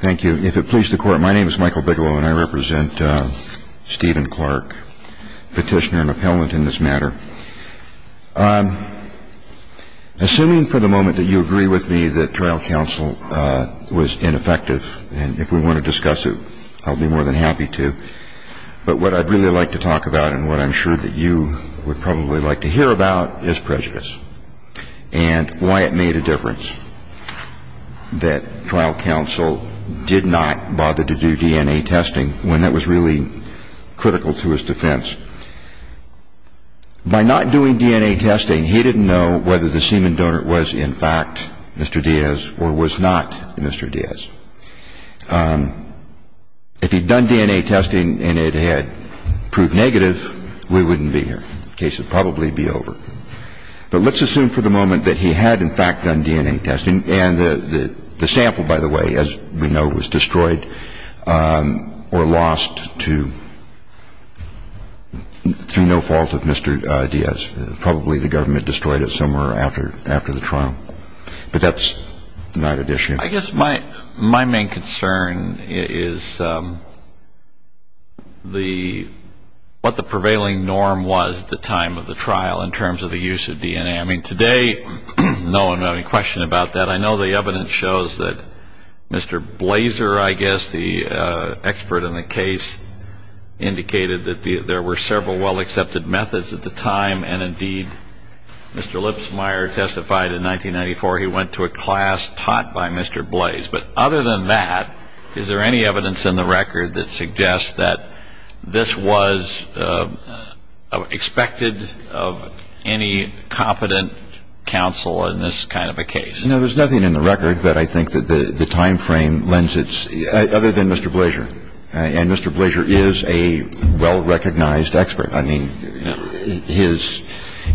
Thank you. If it pleases the court, my name is Michael Bigelow and I represent Stephen Clark, petitioner and appellant in this matter. Assuming for the moment that you agree with me that trial counsel was ineffective and if we want to discuss it, I'll be more than happy to. But what I'd really like to talk about and what I'm sure that you would probably like to hear about is prejudice and why it made a difference that trial counsel did not bother to do DNA testing when that was really critical to his defense. By not doing DNA testing, he didn't know whether the semen donor was in fact Mr. Diaz or was not Mr. Diaz. If he'd done DNA testing and it had proved negative, we wouldn't be here. The case would probably be over. But let's assume for the moment that he had, in fact, done DNA testing. And the sample, by the way, as we know, was destroyed or lost to no fault of Mr. Diaz. Probably the government destroyed it somewhere after the trial. But that's not at issue. I guess my main concern is what the prevailing norm was at the time of the trial in terms of the use of DNA. I mean, today, no one would have any question about that. I know the evidence shows that Mr. Blaser, I guess, the expert in the case, indicated that there were several well-accepted methods at the time. And indeed, Mr. Lipsmeyer testified in 1994 he went to a class taught by Mr. Blaser. But other than that, is there any evidence in the record that suggests that this was expected of any competent counsel in this kind of a case? No, there's nothing in the record that I think that the timeframe lends its – other than Mr. Blaser. And Mr. Blaser is a well-recognized expert. I mean, his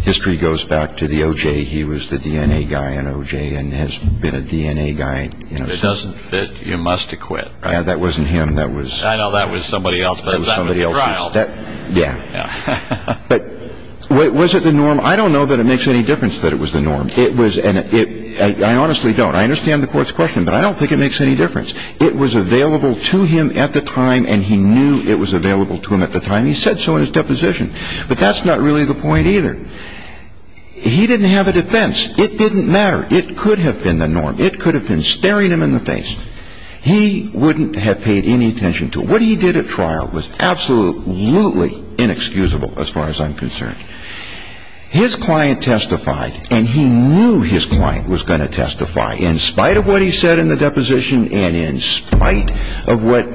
history goes back to the O.J. He was the DNA guy in O.J. and has been a DNA guy in – If it doesn't fit, you must acquit, right? That wasn't him. That was – I know that was somebody else, but that was the trial. Yeah. Yeah. But was it the norm? I don't know that it makes any difference that it was the norm. It was – and I honestly don't. I understand the Court's question, but I don't think it makes any difference. It was available to him at the time, and he knew it was available to him at the time. He said so in his deposition. But that's not really the point either. He didn't have a defense. It didn't matter. It could have been the norm. It could have been staring him in the face. He wouldn't have paid any attention to it. What he did at trial was absolutely inexcusable as far as I'm concerned. His client testified, and he knew his client was going to testify. In spite of what he said in the deposition and in spite of what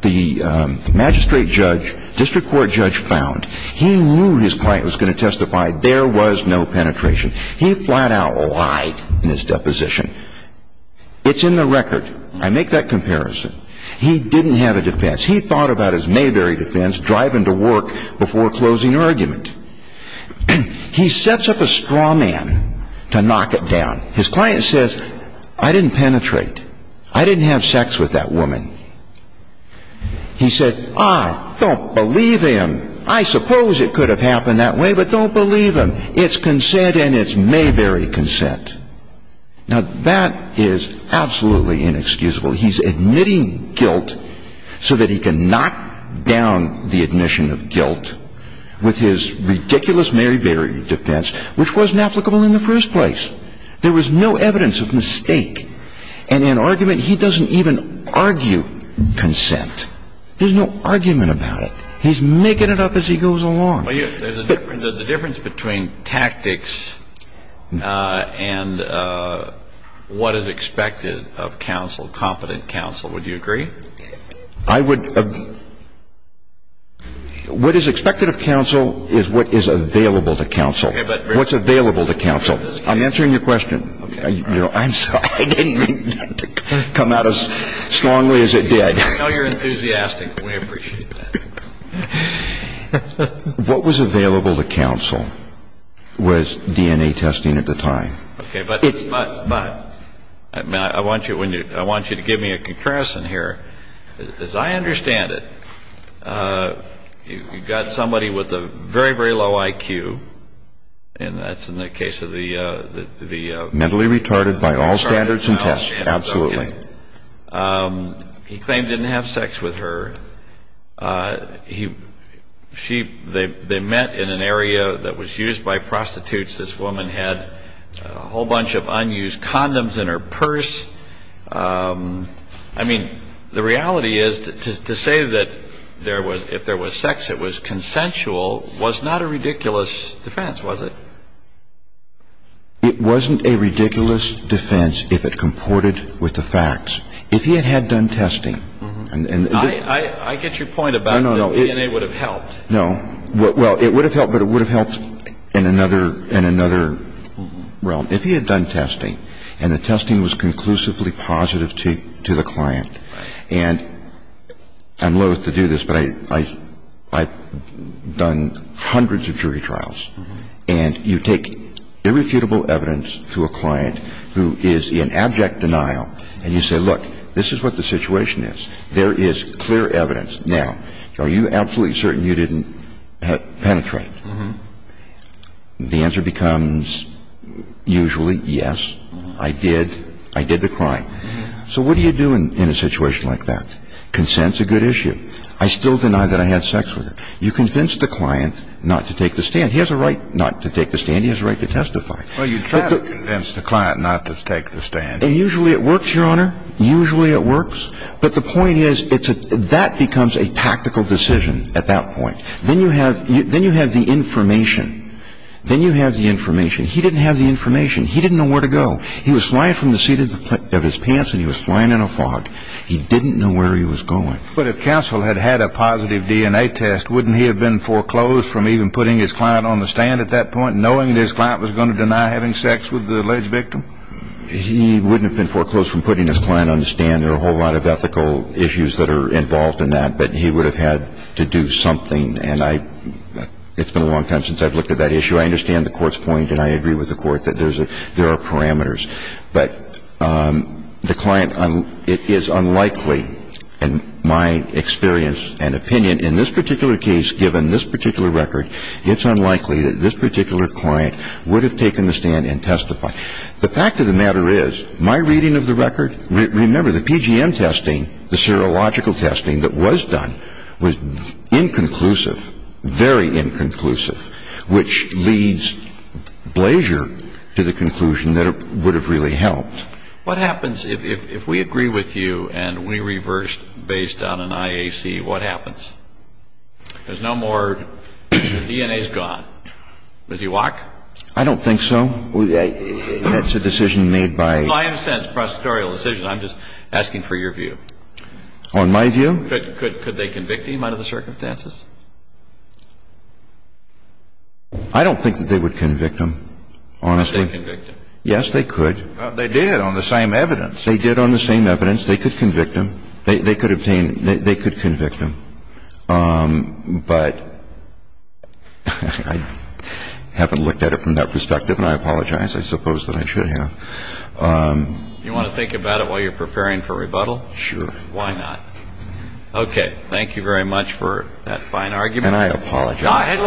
the magistrate judge, district court judge, found, he knew his client was going to testify. There was no penetration. He flat out lied in his deposition. It's in the record. I make that comparison. He didn't have a defense. He thought about his Mayberry defense, driving to work before closing argument. He sets up a straw man to knock it down. His client says, I didn't penetrate. I didn't have sex with that woman. He said, ah, don't believe him. I suppose it could have happened that way, but don't believe him. It's consent and it's Mayberry consent. Now that is absolutely inexcusable. He's admitting guilt so that he can knock down the admission of guilt with his ridiculous Mayberry defense, which wasn't applicable in the first place. There was no evidence of mistake. And in argument, he doesn't even argue consent. There's no argument about it. He's making it up as he goes along. There's a difference between tactics and what is expected of counsel, competent counsel. Would you agree? I would. What is expected of counsel is what is available to counsel. What's available to counsel. I'm answering your question. I'm sorry. I didn't mean to come out as strongly as it did. I know you're enthusiastic. We appreciate that. What was available to counsel was DNA testing at the time. Okay. But I want you to give me a comparison here. As I understand it, you've got somebody with a very, very low IQ, and that's in the case of the mentally retarded by all standards and tests. Absolutely. He claimed didn't have sex with her. She they met in an area that was used by prostitutes. This woman had a whole bunch of unused condoms in her purse. I mean, the reality is to say that there was, if there was sex, it was consensual was not a ridiculous defense, was it? It wasn't a ridiculous defense if it comported with the facts. If he had done testing. I get your point about DNA would have helped. No. Well, it would have helped, but it would have helped in another realm. If he had done testing, and the testing was conclusively positive to the client, and I'm loath to do this, but I've done hundreds of jury trials, and you take irrefutable evidence to a client who is in abject denial, and you say, look, this is what the situation is. There is clear evidence. Now, are you absolutely certain you didn't penetrate? The answer becomes usually yes, I did. I did the crime. So what do you do in a situation like that? Consent is a good issue. I still deny that I had sex with her. You convince the client not to take the stand. He has a right not to take the stand. He has a right to testify. Well, you try to convince the client not to take the stand. And usually it works, Your Honor. Usually it works. But the point is that becomes a tactical decision at that point. Then you have the information. Then you have the information. He didn't have the information. He didn't know where to go. He was flying from the seat of his pants, and he was flying in a fog. He didn't know where he was going. But if counsel had had a positive DNA test, wouldn't he have been foreclosed from even putting his client on the stand at that point, knowing that his client was going to deny having sex with the alleged victim? He wouldn't have been foreclosed from putting his client on the stand. There are a whole lot of ethical issues that are involved in that, but he would have had to do something. And it's been a long time since I've looked at that issue. I understand the Court's point, and I agree with the Court, that there are parameters. But the client, it is unlikely, in my experience and opinion, in this particular case, given this particular record, it's unlikely that this particular client would have taken the stand and testified. The fact of the matter is, my reading of the record, remember, the PGM testing, the serological testing that was done, was inconclusive, very inconclusive, which leads Blaser to the conclusion that it would have really helped. What happens if we agree with you and we reverse based on an IAC? What happens? There's no more DNA's gone. Does he walk? I don't think so. That's a decision made by... Well, I understand it's a prosecutorial decision. I'm just asking for your view. On my view? Could they convict him under the circumstances? I don't think that they would convict him, honestly. Could they convict him? Yes, they could. They did on the same evidence. They did on the same evidence. They could convict him. They could obtain them. They could convict him. But I haven't looked at it from that perspective, and I apologize. I suppose that I should have. You want to think about it while you're preparing for rebuttal? Sure. Why not? Okay. Thank you very much for that fine argument. And I apologize.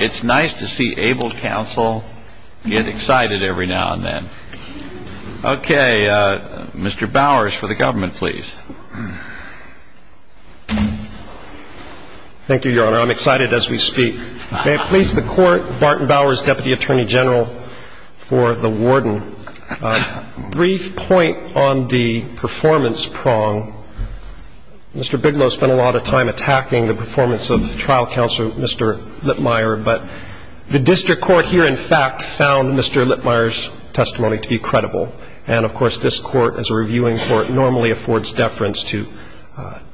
It's nice to see abled counsel get excited every now and then. Okay. Mr. Bowers for the government, please. Thank you, Your Honor. I'm excited as we speak. May it please the Court, Barton Bowers, Deputy Attorney General for the warden. Brief point on the performance prong. Mr. Bigelow spent a lot of time attacking the performance of trial counsel, Mr. Lipmeier, but the district court here, in fact, found Mr. Lipmeier's testimony to be credible. And, of course, this Court, as a reviewing court, normally affords deference to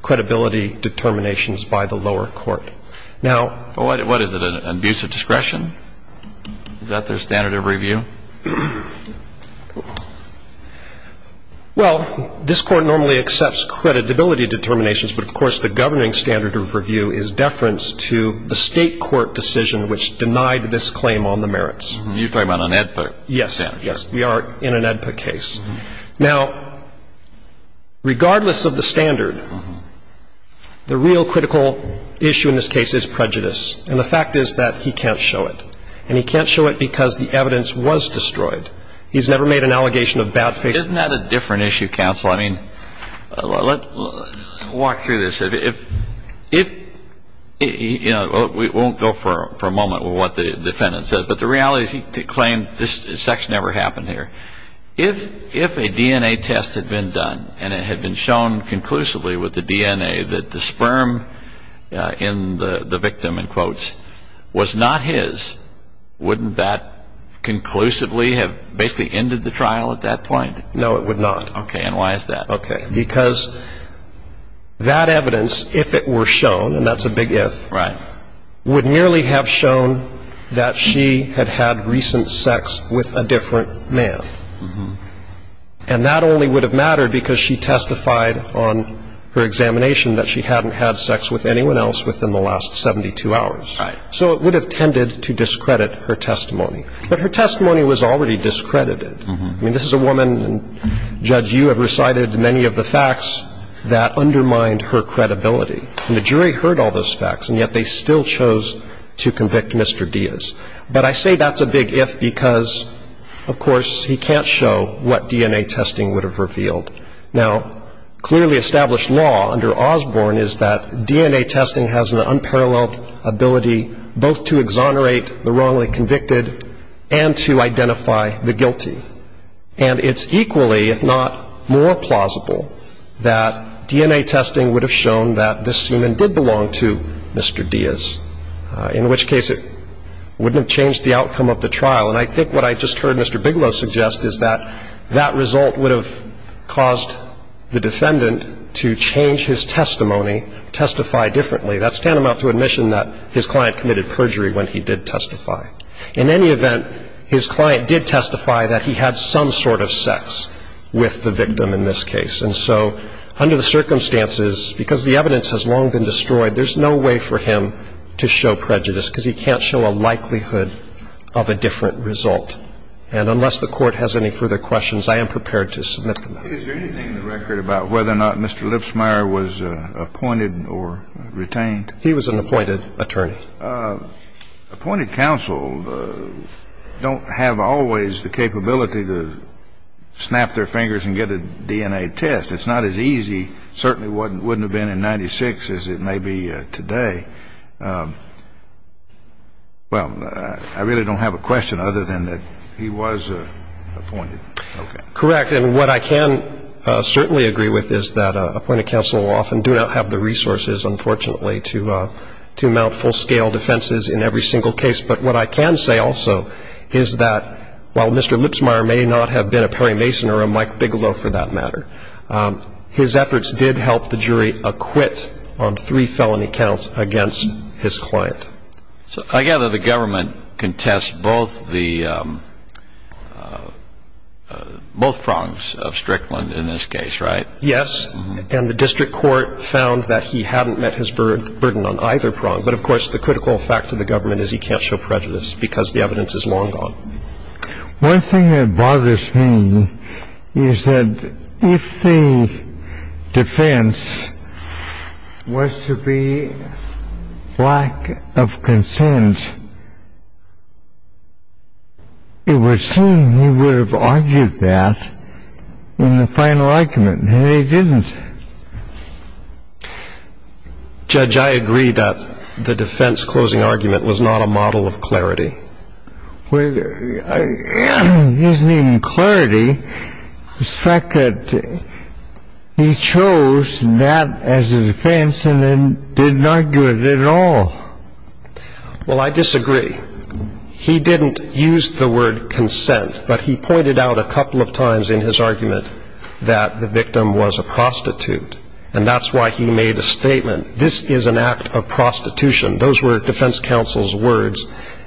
credibility determinations by the lower court. What is it, an abuse of discretion? Is that their standard of review? Well, this Court normally accepts creditability determinations, but, of course, the governing standard of review is deference to the state court decision which denied this claim on the merits. You're talking about an AEDPA standard. Yes. We are in an AEDPA case. Now, regardless of the standard, the real critical issue in this case is prejudice. And the fact is that he can't show it. And he can't show it because the evidence was destroyed. He's never made an allegation of bad faith. Isn't that a different issue, counsel? I mean, let's walk through this. If, you know, we won't go for a moment with what the defendant said, but the reality is he claimed this sex never happened here. If a DNA test had been done and it had been shown conclusively with the DNA that the sperm in the victim, in quotes, was not his, wouldn't that conclusively have basically ended the trial at that point? No, it would not. Okay. And why is that? Okay. Because that evidence, if it were shown, and that's a big if, Right. would only have shown that she had had recent sex with a different man. Mm-hmm. And that only would have mattered because she testified on her examination that she hadn't had sex with anyone else within the last 72 hours. Right. So it would have tended to discredit her testimony. But her testimony was already discredited. Mm-hmm. I mean, this is a woman, and, Judge, you have recited many of the facts that undermined her credibility. And the jury heard all those facts, and yet they still chose to convict Mr. Diaz. But I say that's a big if because, of course, he can't show what DNA testing would have revealed. Now, clearly established law under Osborne is that DNA testing has an unparalleled ability both to exonerate the wrongly convicted and to identify the guilty. And it's equally, if not more plausible, that DNA testing would have shown that this semen did belong to Mr. Diaz, in which case it wouldn't have changed the outcome of the trial. And I think what I just heard Mr. Bigelow suggest is that that result would have caused the defendant to change his testimony, testify differently. That's tantamount to admission that his client committed perjury when he did testify. In any event, his client did testify that he had some sort of sex with the victim in this case. And so under the circumstances, because the evidence has long been destroyed, there's no way for him to show prejudice because he can't show a likelihood of a different result. And unless the Court has any further questions, I am prepared to submit them. Is there anything in the record about whether or not Mr. Lipsmeyer was appointed or retained? He was an appointed attorney. Appointed counsel don't have always the capability to snap their fingers and get a DNA test. It's not as easy, certainly wouldn't have been in 1996 as it may be today. Well, I really don't have a question other than that he was appointed. Correct. And what I can certainly agree with is that appointed counsel often do not have the resources, unfortunately, to mount full-scale defenses in every single case. But what I can say also is that while Mr. Lipsmeyer may not have been a Perry Mason or a Mike Bigelow, for that matter, his efforts did help the jury acquit on three felony counts against his client. So I gather the government contests both the – both prongs of Strickland in this case, right? Yes. And the district court found that he hadn't met his burden on either prong. But, of course, the critical fact of the government is he can't show prejudice because the evidence is long gone. One thing that bothers me is that if the defense was to be lack of consent, it would seem he would have argued that in the final argument, and he didn't. Judge, I agree that the defense closing argument was not a model of clarity. Well, it isn't even clarity. It's the fact that he chose that as a defense and then did not do it at all. Well, I disagree. He didn't use the word consent, but he pointed out a couple of times in his argument that the victim was a prostitute. And that's why he made a statement, this is an act of prostitution. Those were defense counsel's words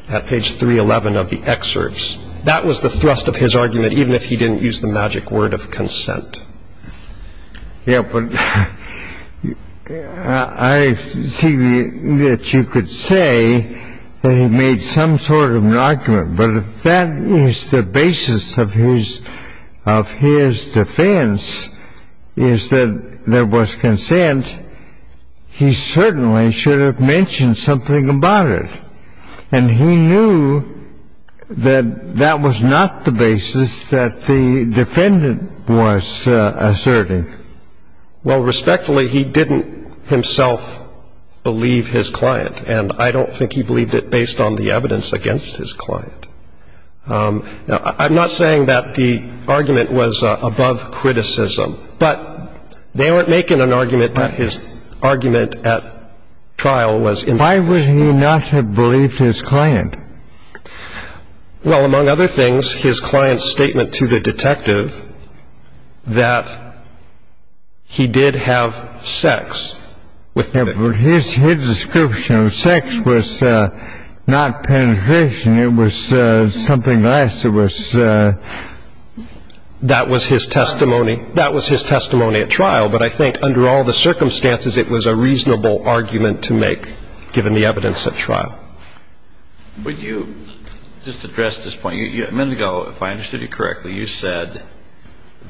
at page 311 of the excerpts. That was the thrust of his argument, even if he didn't use the magic word of consent. Yeah, but I see that you could say that he made some sort of an argument. But if that is the basis of his defense, is that there was consent, he certainly should have mentioned something about it. And he knew that that was not the basis that the defendant was asserting. Well, respectfully, he didn't himself believe his client, and I don't think he believed it based on the evidence against his client. Now, I'm not saying that the argument was above criticism, but they weren't making an argument that his argument at trial was incorrect. Why would he not have believed his client? Well, among other things, his client's statement to the detective that he did have sex with him. His description of sex was not penetration, it was something else. That was his testimony at trial, but I think under all the circumstances, it was a reasonable argument to make, given the evidence at trial. Would you just address this point? A minute ago, if I understood you correctly, you said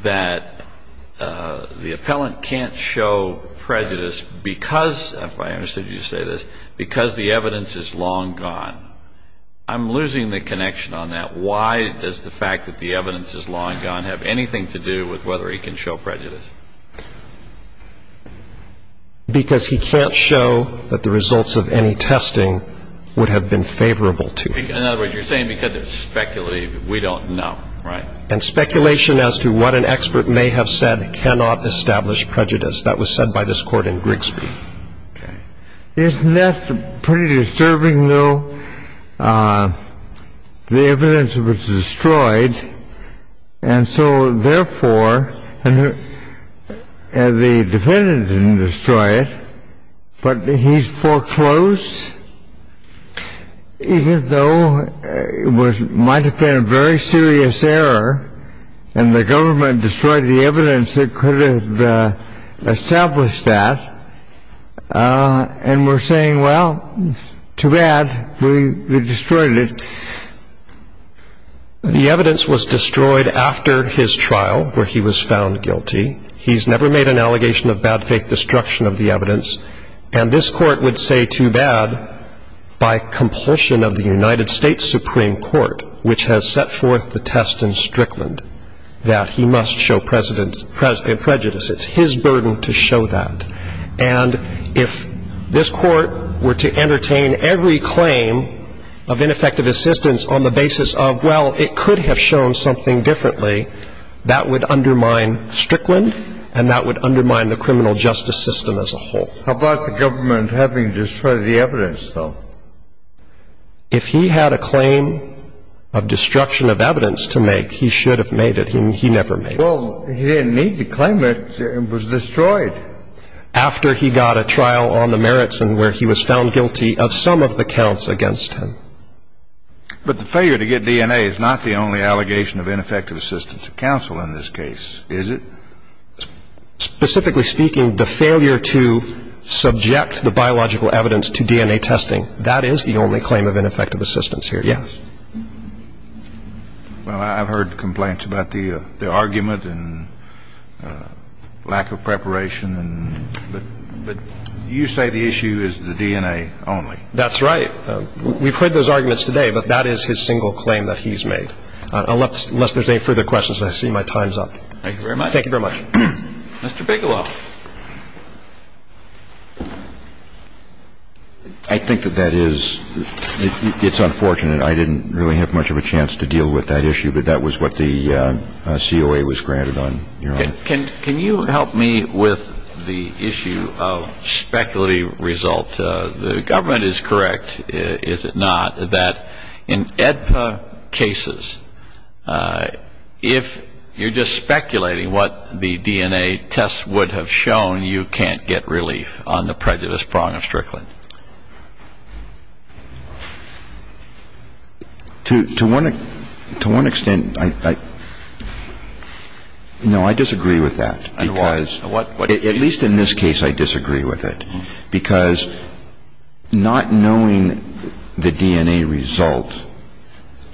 that the appellant can't show prejudice because, if I understood you to say this, because the evidence is long gone. I'm losing the connection on that. Why does the fact that the evidence is long gone have anything to do with whether he can show prejudice? Because he can't show that the results of any testing would have been favorable to him. In other words, you're saying because it's speculative, we don't know, right? And speculation as to what an expert may have said cannot establish prejudice. That was said by this Court in Grigsby. Okay. Isn't that pretty disturbing, though? The evidence was destroyed, and so, therefore, the defendant didn't destroy it, but he's foreclosed, even though it might have been a very serious error and the government destroyed the evidence that could have established that and we're saying, well, too bad, we destroyed it. The evidence was destroyed after his trial where he was found guilty. He's never made an allegation of bad faith destruction of the evidence, and this Court would say too bad by compulsion of the United States Supreme Court, which has set forth the test in Strickland that he must show prejudice. It's his burden to show that, and if this Court were to entertain every claim of ineffective assistance on the basis of, well, it could have shown something differently, that would undermine Strickland and that would undermine the criminal justice system as a whole. How about the government having destroyed the evidence, though? If he had a claim of destruction of evidence to make, he should have made it. He never made it. Well, he didn't need to claim it. It was destroyed. After he got a trial on the merits and where he was found guilty of some of the counts against him. But the failure to get DNA is not the only allegation of ineffective assistance to counsel in this case, is it? Specifically speaking, the failure to subject the biological evidence to DNA testing, that is the only claim of ineffective assistance here, yes. Well, I've heard complaints about the argument and lack of preparation, but you say the issue is the DNA only. That's right. We've heard those arguments today, but that is his single claim that he's made. Unless there's any further questions, I see my time's up. Thank you very much. Thank you very much. Mr. Bigelow. I think that that is unfortunate. I didn't really have much of a chance to deal with that issue, but that was what the COA was granted on your end. Can you help me with the issue of speculative result? The government is correct, is it not, that in EDPA cases, if you're just speculating what the DNA tests would have shown, you can't get relief on the prejudice prong of Strickland? To one extent, no, I disagree with that. Because at least in this case, I disagree with it. Because not knowing the DNA result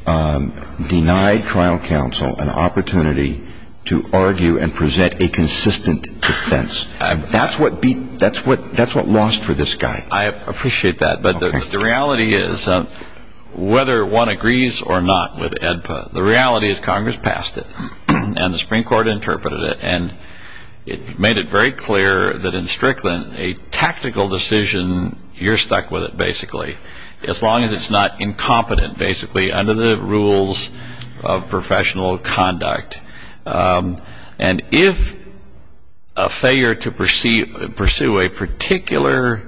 denied trial counsel an opportunity to argue and present a consistent defense. That's what lost for this guy. I appreciate that. But the reality is, whether one agrees or not with EDPA, the reality is Congress passed it, and the Supreme Court interpreted it. And it made it very clear that in Strickland, a tactical decision, you're stuck with it, basically. As long as it's not incompetent, basically, under the rules of professional conduct. And if a failure to pursue a particular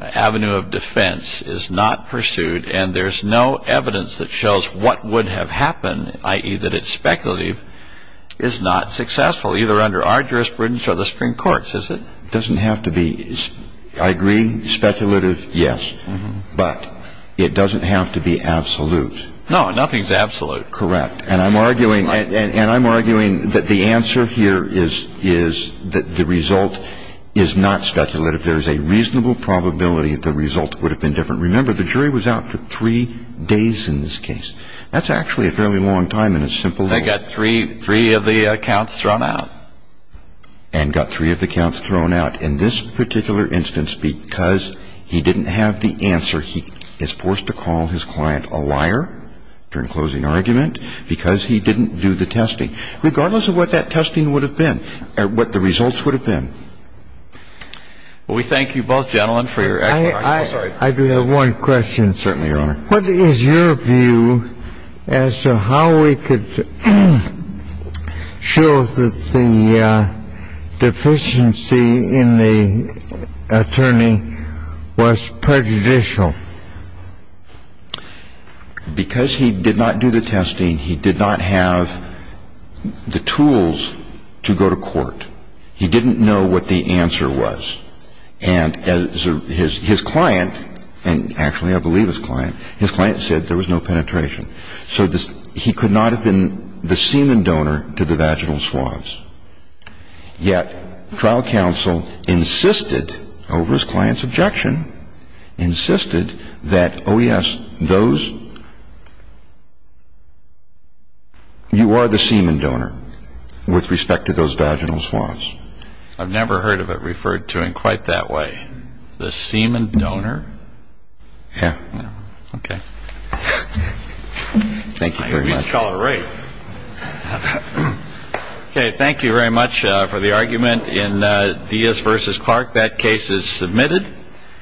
avenue of defense is not pursued, and there's no evidence that shows what would have happened, i.e., that it's speculative, is not successful, either under our jurisprudence or the Supreme Court's, is it? It doesn't have to be, I agree, speculative, yes. But it doesn't have to be absolute. No, nothing's absolute. Correct. And I'm arguing that the answer here is that the result is not speculative. There is a reasonable probability that the result would have been different. Remember, the jury was out for three days in this case. That's actually a fairly long time in a simple law. They got three of the counts thrown out. And got three of the counts thrown out in this particular instance because he didn't have the answer. He is forced to call his client a liar during closing argument because he didn't do the testing, regardless of what that testing would have been or what the results would have been. Well, we thank you both, gentlemen, for your excellent argument. I do have one question. Certainly, Your Honor. What is your view as to how we could show that the deficiency in the attorney was prejudicial? Because he did not do the testing, he did not have the tools to go to court. He didn't know what the answer was. And his client, and actually I believe his client, his client said there was no penetration. So he could not have been the semen donor to the vaginal swabs. Yet trial counsel insisted over his client's objection, insisted that, oh, yes, those you are the semen donor with respect to those vaginal swabs. I've never heard of it referred to in quite that way. The semen donor. Yeah. Okay. Thank you very much. All right. Okay. Thank you very much for the argument in Diaz versus Clark. That case is submitted.